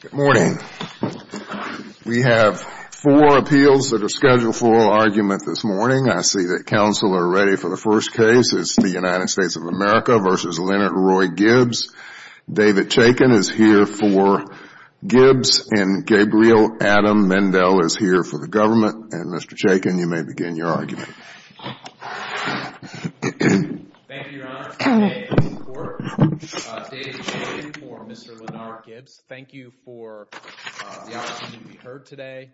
Good morning. We have four appeals that are scheduled for argument this morning. I see that counsel are ready for the first case. It's the United States of America v. Lenard Roy Gibbs. David Chaykin is here for Gibbs, and Gabriel Adam Mendel is here for the government. And Mr. Chaykin, you may begin your argument. Thank you, Your Honor, for today's support. David Chaykin for Mr. Lenard Gibbs. Thank you for the opportunity to be heard today.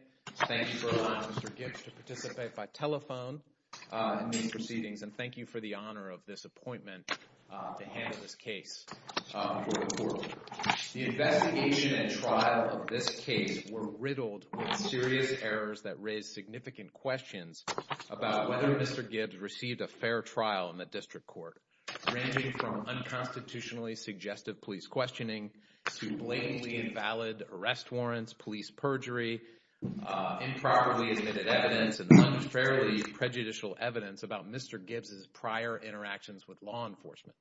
Thank you for allowing Mr. Gibbs to participate by telephone in these proceedings. And thank you for the honor of this appointment to handle this case for the court. The investigation and trial of this case were riddled with serious errors that raised significant questions about whether Mr. Gibbs received a fair trial in the district court, ranging from unconstitutionally suggestive police questioning to blatantly invalid arrest warrants, police perjury, improperly admitted evidence, and unfairly prejudicial evidence about Mr. Gibbs' prior interactions with law enforcement.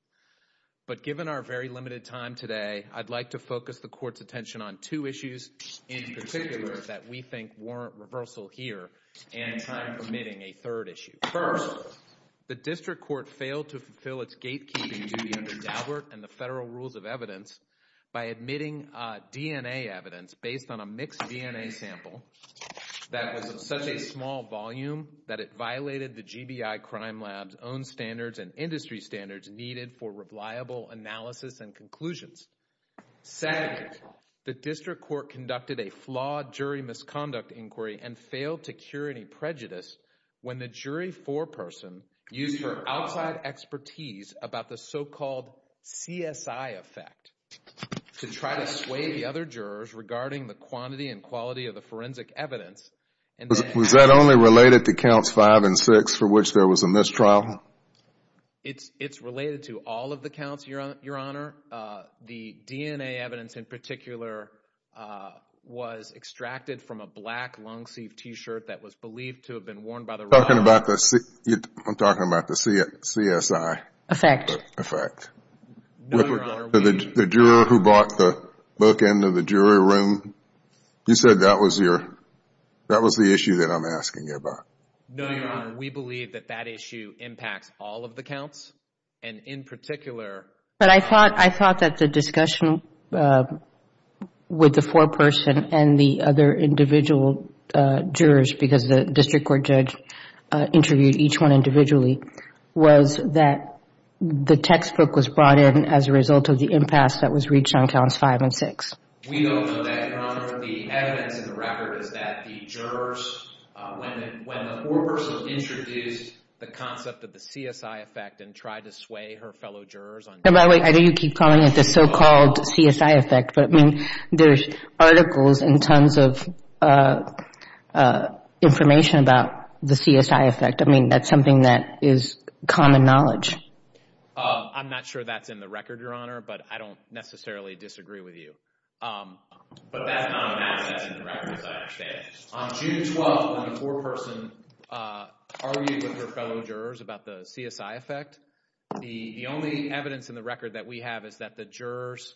But given our very limited time today, I'd like to focus the court's attention on two issues in particular that we think warrant reversal here and time permitting a third issue. First, the district court failed to fulfill its gatekeeping duty under Daubert and the federal rules of evidence by admitting DNA evidence based on a mixed DNA sample that was of such a small volume that it violated the GBI Crime Lab's own standards and industry standards needed for reliable analysis and conclusions. Second, the district court conducted a flawed jury misconduct inquiry and failed to cure any prejudice when the jury foreperson used her outside expertise about the so-called CSI effect to try to sway the other jurors regarding the quantity and quality of the forensic evidence. Was that only related to counts five and six for which there was a mistrial? It's related to all of the counts, Your Honor. The DNA evidence in particular was extracted from a black long-sleeved T-shirt that was believed to have been worn by the robber. I'm talking about the CSI. Effect. Effect. No, Your Honor, we The juror who brought the book into the jury room, you said that was your, that was the issue that I'm asking you about. No, Your Honor, we believe that that issue impacts all of the counts and in particular But I thought that the discussion with the foreperson and the other individual jurors because the district court judge interviewed each one individually was that the textbook was brought in as a result of the impasse that was reached on counts five and six. We don't know that, Your Honor. The evidence in the record is that the jurors, when the foreperson introduced the concept of the CSI effect and tried to sway her fellow jurors, By the way, I know you keep calling it the so-called CSI effect, but I mean, there's articles and tons of information about the CSI effect. I mean, that's something that is common knowledge. I'm not sure that's in the record, Your Honor, but I don't necessarily disagree with you. But that's not an asset in the record, as I understand it. On June 12th, when the foreperson argued with her fellow jurors about the CSI effect, the only evidence in the record that we have is that the jurors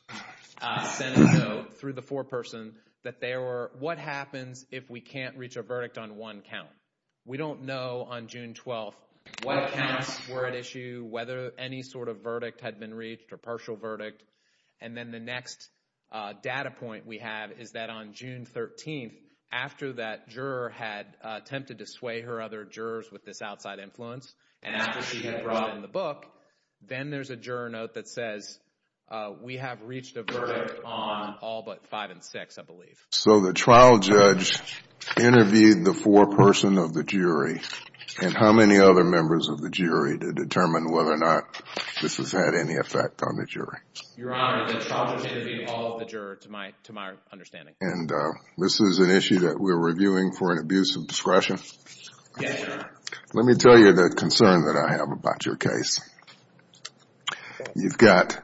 sent a note through the foreperson that they were, what happens if we can't reach a verdict on one count? We don't know on June 12th what counts were at issue, whether any sort of verdict had been reached or partial verdict. And then the next data point we have is that on June 13th, after that juror had attempted to sway her other jurors with this outside influence, and after she had brought in the book, then there's a juror note that says we have reached a verdict on all but five and six, I believe. So the trial judge interviewed the foreperson of the jury and how many other members of the jury to determine whether or not this has had any effect on the jury? Your Honor, the trial judge interviewed all of the jurors, to my understanding. And this is an issue that we're reviewing for an abuse of discretion? Yes, Your Honor. Let me tell you the concern that I have about your case. You've got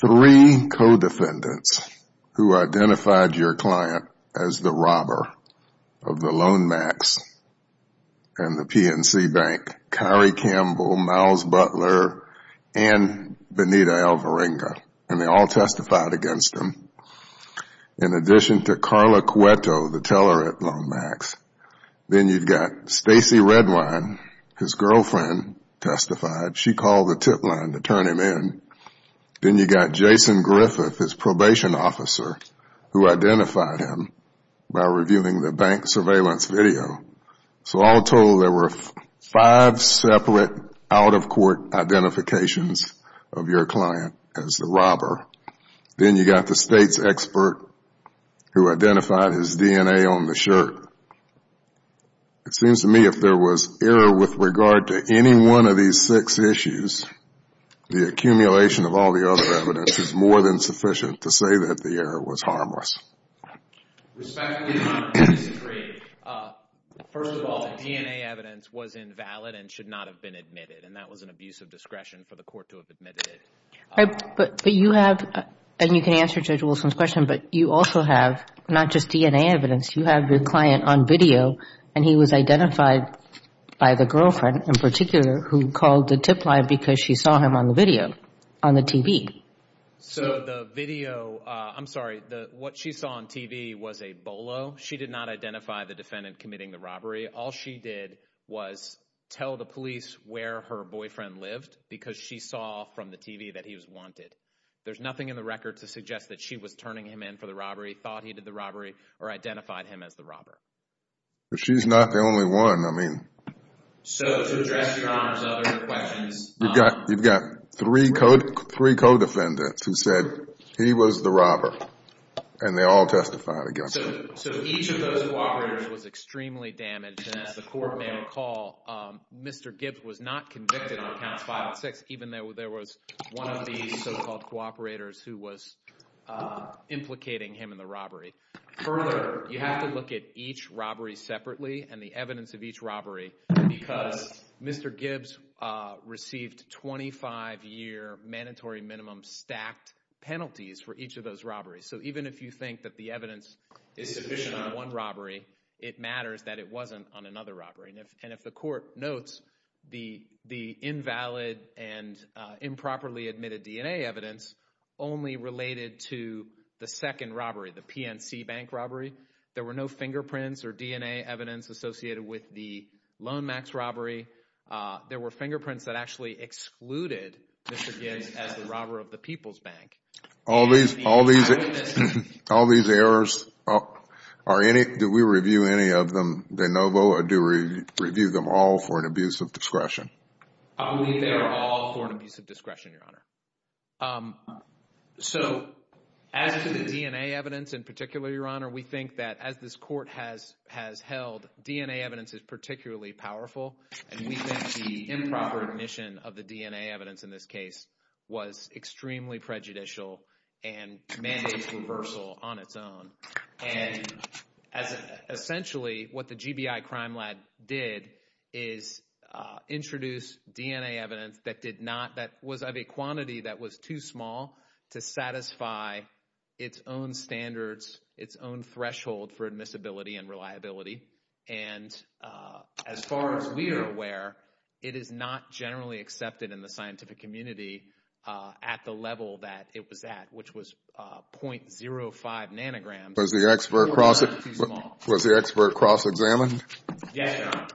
three co-defendants who identified your client as the robber of the loan max and the PNC Bank, Kari Campbell, Myles Butler, and Benita Alvarenga. And they all testified against him. In addition to Carla Cueto, the teller at Loan Max, then you've got Stacey Redwine, his girlfriend, testified. She called the tip line to turn him in. Then you've got Jason Griffith, his probation officer, who identified him by reviewing the bank surveillance video. So all told, there were five separate out-of-court identifications of your client as the robber. Then you've got the state's expert, who identified his DNA on the shirt. It seems to me if there was error with regard to any one of these six issues, the accumulation of all the other evidence is more than sufficient to say that the error was harmless. Respectively, Your Honor, please decree. First of all, the DNA evidence was invalid and should not have been admitted. And that was an abuse of discretion for the court to have admitted it. But you have, and you can answer Judge Wilson's question, but you also have not just DNA evidence. You have your client on video, and he was identified by the girlfriend in particular who called the tip line because she saw him on the video, on the TV. So the video, I'm sorry, what she saw on TV was a bolo. She did not identify the defendant committing the robbery. All she did was tell the police where her boyfriend lived because she saw from the TV that he was wanted. There's nothing in the record to suggest that she was turning him in for the robbery, thought he did the robbery, or identified him as the robber. But she's not the only one. I mean. So to address Your Honor's other questions. You've got three co-defendants who said he was the robber, and they all testified against him. So each of those cooperators was extremely damaged. And as the court may recall, Mr. Gibbs was not convicted on counts five and six even though there was one of the so-called cooperators who was implicating him in the robbery. Further, you have to look at each robbery separately and the evidence of each robbery because Mr. Gibbs received 25-year mandatory minimum stacked penalties for each of those robberies. So even if you think that the evidence is sufficient on one robbery, it matters that it wasn't on another robbery. And if the court notes the invalid and improperly admitted DNA evidence only related to the second robbery, the PNC Bank robbery, there were no fingerprints or DNA evidence associated with the Lone Max robbery. There were fingerprints that actually excluded Mr. Gibbs as the robber of the People's Bank. All these errors, do we review any of them de novo or do we review them all for an abuse of discretion? I believe they are all for an abuse of discretion, Your Honor. So as to the DNA evidence in particular, Your Honor, we think that as this court has held, DNA evidence is particularly powerful, and we think the improper admission of the DNA evidence in this case was extremely prejudicial and mandates reversal on its own. And essentially what the GBI Crime Lab did is introduce DNA evidence that did not, that was of a quantity that was too small to satisfy its own standards, its own threshold for admissibility and reliability. And as far as we are aware, it is not generally accepted in the scientific community at the level that it was at, which was .05 nanograms. Was the expert cross-examined? Yes, Your Honor.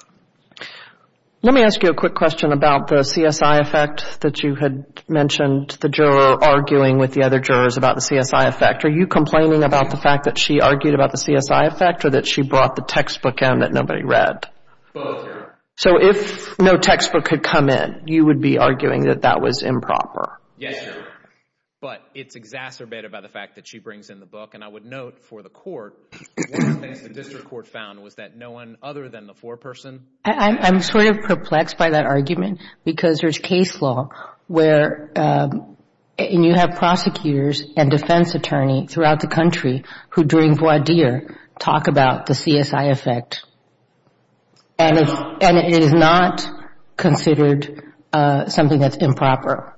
Let me ask you a quick question about the CSI effect that you had mentioned, the juror arguing with the other jurors about the CSI effect. Are you complaining about the fact that she argued about the CSI effect or that she brought the textbook in that nobody read? Both, Your Honor. So if no textbook had come in, you would be arguing that that was improper? Yes, Your Honor. But it's exacerbated by the fact that she brings in the book. And I would note for the court, one of the things the district court found was that no one other than the foreperson. I'm sort of perplexed by that argument because there's case law where you have prosecutors and defense attorney throughout the country who, during voir dire, talk about the CSI effect. And it is not considered something that's improper.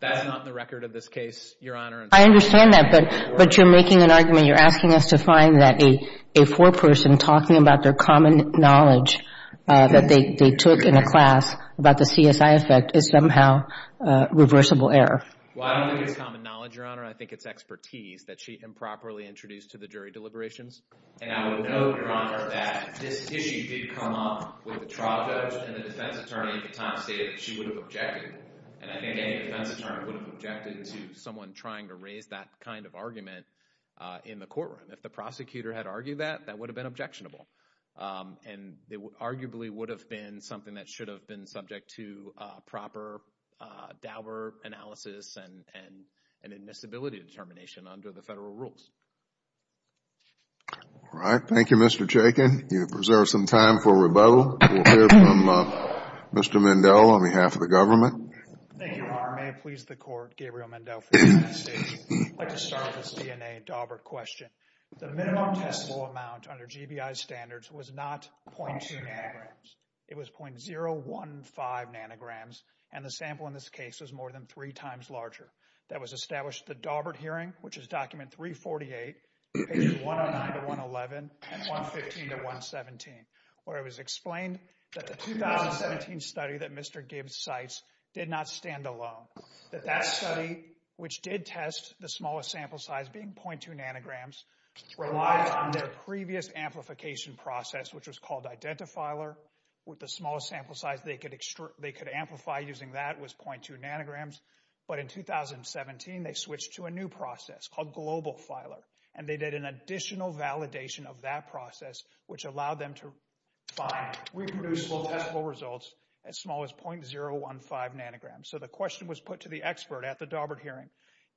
That's not in the record of this case, Your Honor. I understand that, but you're making an argument. You're asking us to find that a foreperson talking about their common knowledge that they took in a class about the CSI effect is somehow reversible error. Well, I don't think it's common knowledge, Your Honor. I think it's expertise that she improperly introduced to the jury deliberations. And I would note, Your Honor, that this issue did come up with the trial judge and the defense attorney at the time stated that she would have objected. And I think any defense attorney would have objected to someone trying to raise that kind of argument in the courtroom. If the prosecutor had argued that, that would have been objectionable. And it arguably would have been something that should have been subject to proper Dauber analysis and admissibility determination under the federal rules. All right. Thank you, Mr. Chaykin. You have preserved some time for rebuttal. We'll hear from Mr. Mendell on behalf of the government. Thank you, Your Honor. May it please the Court, Gabriel Mendell for the investigation. I'd like to start with this DNA Dauber question. The minimum testable amount under GBI standards was not 0.2 nanograms. It was 0.015 nanograms, and the sample in this case was more than three times larger. That was established at the Daubert hearing, which is document 348, page 109 to 111, and 115 to 117, where it was explained that the 2017 study that Mr. Gibbs cites did not stand alone. That that study, which did test the smallest sample size being 0.2 nanograms, relied on their previous amplification process, which was called identifiler, with the smallest sample size they could amplify using that was 0.2 nanograms. But in 2017, they switched to a new process called global filer, and they did an additional validation of that process, which allowed them to find reproducible testable results as small as 0.015 nanograms. So the question was put to the expert at the Daubert hearing,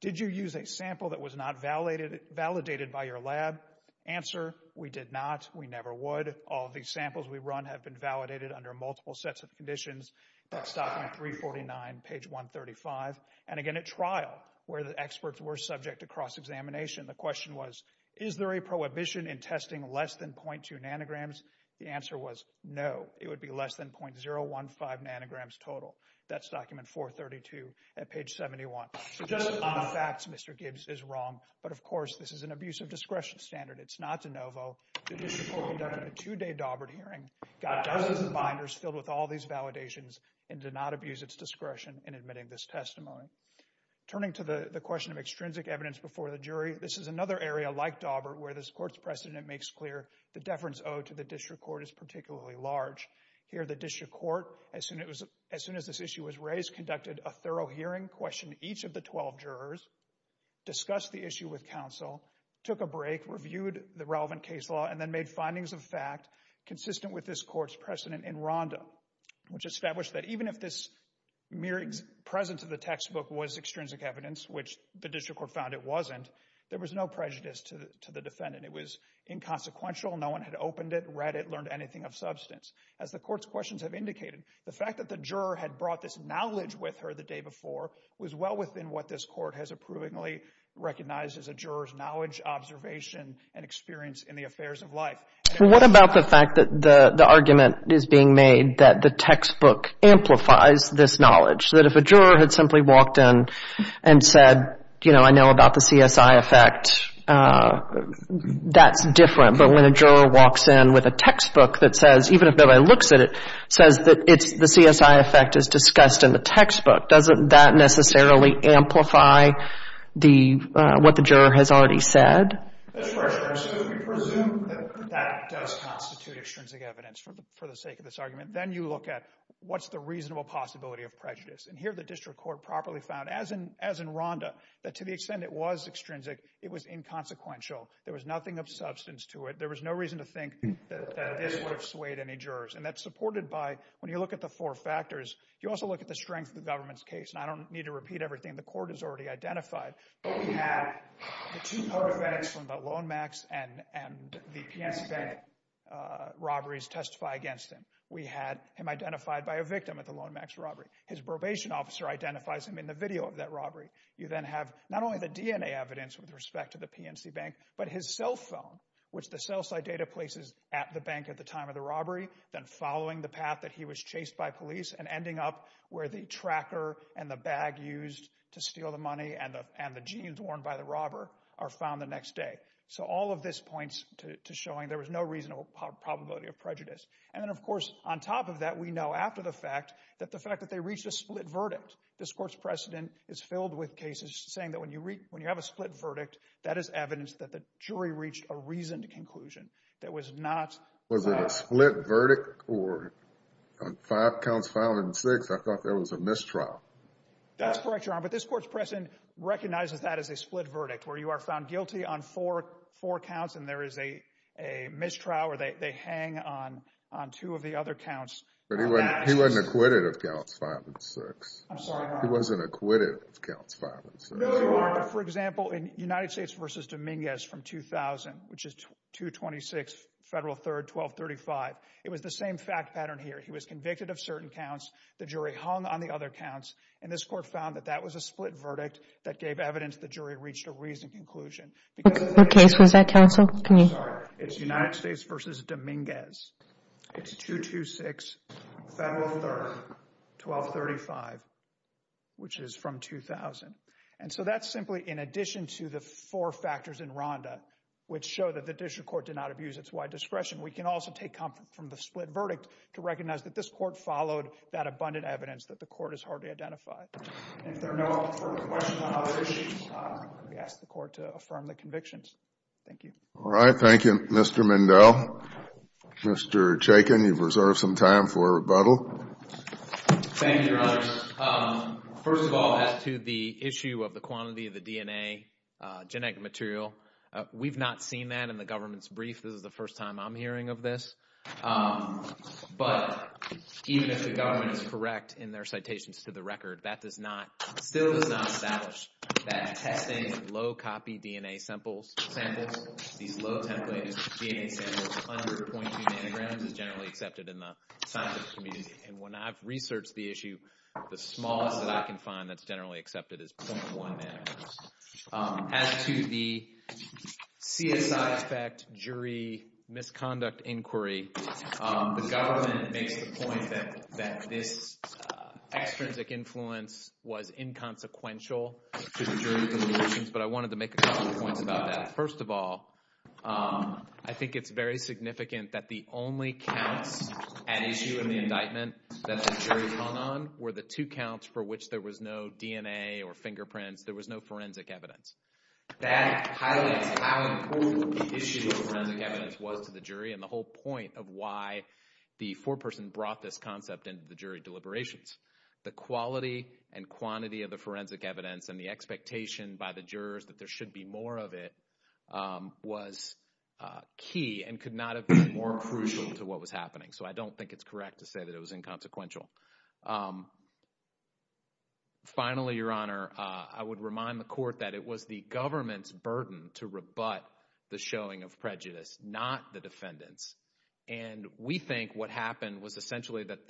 did you use a sample that was not validated by your lab? Answer, we did not, we never would. All of these samples we run have been validated under multiple sets of conditions. That's document 349, page 135. And again, at trial, where the experts were subject to cross-examination, the question was, is there a prohibition in testing less than 0.2 nanograms? The answer was no. It would be less than 0.015 nanograms total. That's document 432 at page 71. So just on the facts, Mr. Gibbs is wrong. But of course, this is an abuse of discretion standard. It's not de novo. The district court conducted a two-day Daubert hearing, got dozens of binders filled with all these validations, and did not abuse its discretion in admitting this testimony. Turning to the question of extrinsic evidence before the jury, this is another area like Daubert where this court's precedent makes clear the deference owed to the district court is particularly large. Here, the district court, as soon as this issue was raised, conducted a thorough hearing, questioned each of the 12 jurors, discussed the issue with counsel, took a break, reviewed the relevant case law, and then made findings of fact consistent with this court's precedent in RONDA, which established that even if this mere presence of the textbook was extrinsic evidence, which the district court found it wasn't, there was no prejudice to the defendant. It was inconsequential. No one had opened it, read it, learned anything of substance. As the court's questions have indicated, the fact that the juror had brought this knowledge with her the day before was well within what this court has approvingly recognized as a juror's knowledge, observation, and experience in the affairs of life. What about the fact that the argument is being made that the textbook amplifies this knowledge? That if a juror had simply walked in and said, you know, I know about the CSI effect, that's different. But when a juror walks in with a textbook that says, even if nobody looks at it, says that it's the CSI effect is discussed in the textbook, doesn't that necessarily amplify the, what the juror has already said? That's right, Your Honor. So if we presume that that does constitute extrinsic evidence for the sake of this argument, then you look at what's the reasonable possibility of prejudice. And here the district court properly found, as in RONDA, that to the extent it was extrinsic, it was inconsequential. There was nothing of substance to it. There was no reason to think that this would have swayed any jurors. And that's supported by, when you look at the four factors, you also look at the strength of the government's case. And I don't need to repeat everything the court has already identified. We have the two paraphenics from the Lone Max and the PNC Bank robberies testify against him. We had him identified by a victim at the Lone Max robbery. His probation officer identifies him in the video of that robbery. You then have not only the DNA evidence with respect to the PNC Bank, but his cell phone, which the cell site data places at the bank at the time of the robbery, then following the path that he was chased by police and ending up where the tracker and the bag used to steal the money and the jeans worn by the robber are found the next day. So all of this points to showing there was no reasonable probability of prejudice. And then, of course, on top of that, we know after the fact that the fact that they reached a split verdict. This court's precedent is filled with cases saying that when you have a split verdict, that is evidence that the jury reached a reasoned conclusion. Was it a split verdict or five counts, five and six? I thought there was a mistrial. That's correct, Your Honor, but this court's precedent recognizes that as a split verdict where you are found guilty on four counts and there is a mistrial or they hang on two of the other counts. But he wasn't acquitted of counts five and six. I'm sorry, Your Honor. He wasn't acquitted of counts five and six. No, Your Honor. For example, in United States v. Dominguez from 2000, which is 226 Federal 3rd, 1235, it was the same fact pattern here. He was convicted of certain counts, the jury hung on the other counts, and this court found that that was a split verdict that gave evidence the jury reached a reasoned conclusion. What case was that, counsel? I'm sorry. It's United States v. Dominguez. It's 226 Federal 3rd, 1235, which is from 2000. And so that's simply in addition to the four factors in RONDA which show that the district court did not abuse its wide discretion. We can also take comfort from the split verdict to recognize that this court followed that abundant evidence that the court has hardly identified. If there are no further questions on those issues, I'm going to ask the court to affirm the convictions. Thank you. All right. Thank you, Mr. Mindell. Mr. Chaykin, you've reserved some time for rebuttal. Thank you, Your Honors. First of all, as to the issue of the quantity of the DNA genetic material, we've not seen that in the government's brief. This is the first time I'm hearing of this. But even if the government is correct in their citations to the record, that does not, still does not establish that testing low copy DNA samples, these low template DNA samples under 0.2 nanograms is generally accepted in the scientific community. And when I've researched the issue, the smallest that I can find that's generally accepted is 0.1 nanograms. As to the CSI effect jury misconduct inquiry, the government makes the point that this extrinsic influence was inconsequential to the jury deliberations. But I wanted to make a couple of points about that. First of all, I think it's very significant that the only counts at issue in the indictment that the jury hung on were the two counts for which there was no DNA or fingerprints, there was no forensic evidence. That highlights how important the issue of forensic evidence was to the jury and the whole point of why the foreperson brought this concept into the jury deliberations. The quality and quantity of the forensic evidence and the expectation by the jurors that there should be more of it was key and could not have been more crucial to what was happening. So I don't think it's correct to say that it was inconsequential. Finally, Your Honor, I would remind the court that it was the government's burden to rebut the showing of prejudice, not the defendant's. And we think what happened was essentially that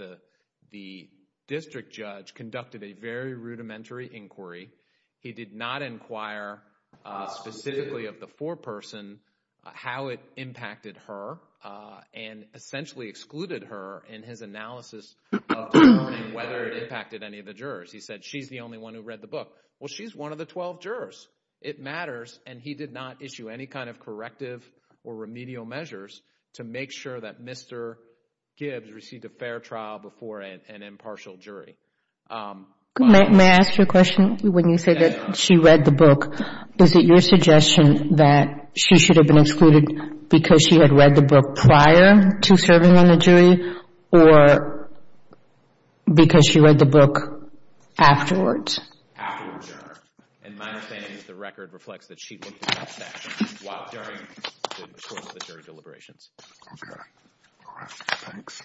the district judge conducted a very rudimentary inquiry. He did not inquire specifically of the foreperson, how it impacted her, and essentially excluded her in his analysis of determining whether it impacted any of the jurors. He said she's the only one who read the book. Well, she's one of the 12 jurors. It matters, and he did not issue any kind of corrective or remedial measures to make sure that Mr. Gibbs received a fair trial before an impartial jury. May I ask you a question? When you say that she read the book, is it your suggestion that she should have been excluded because she had read the book prior to serving on the jury or because she read the book afterwards? Afterwards, Your Honor. In my understanding, the record reflects that she looked at that session while during the course of the jury deliberations. Okay. All right. Thanks.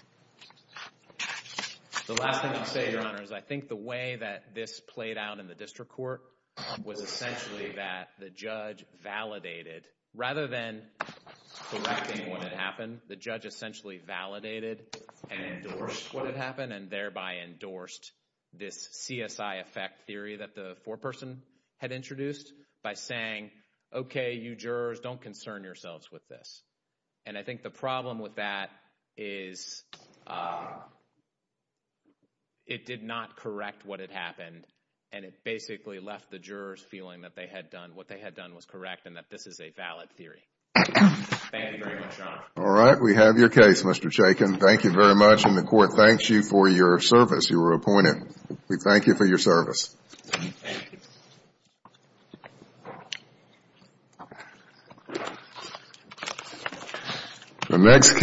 The last thing I'll say, Your Honor, is I think the way that this played out in the district court was essentially that the judge validated. Rather than correcting what had happened, the judge essentially validated and endorsed what had happened and thereby endorsed this CSI effect theory that the foreperson had introduced by saying, okay, you jurors, don't concern yourselves with this. And I think the problem with that is it did not correct what had happened, and it basically left the jurors feeling that what they had done was correct and that this is a valid theory. Thank you very much, Your Honor. All right. We have your case, Mr. Chaykin. Thank you very much. And the court thanks you for your service. You were appointed. We thank you for your service. Thank you.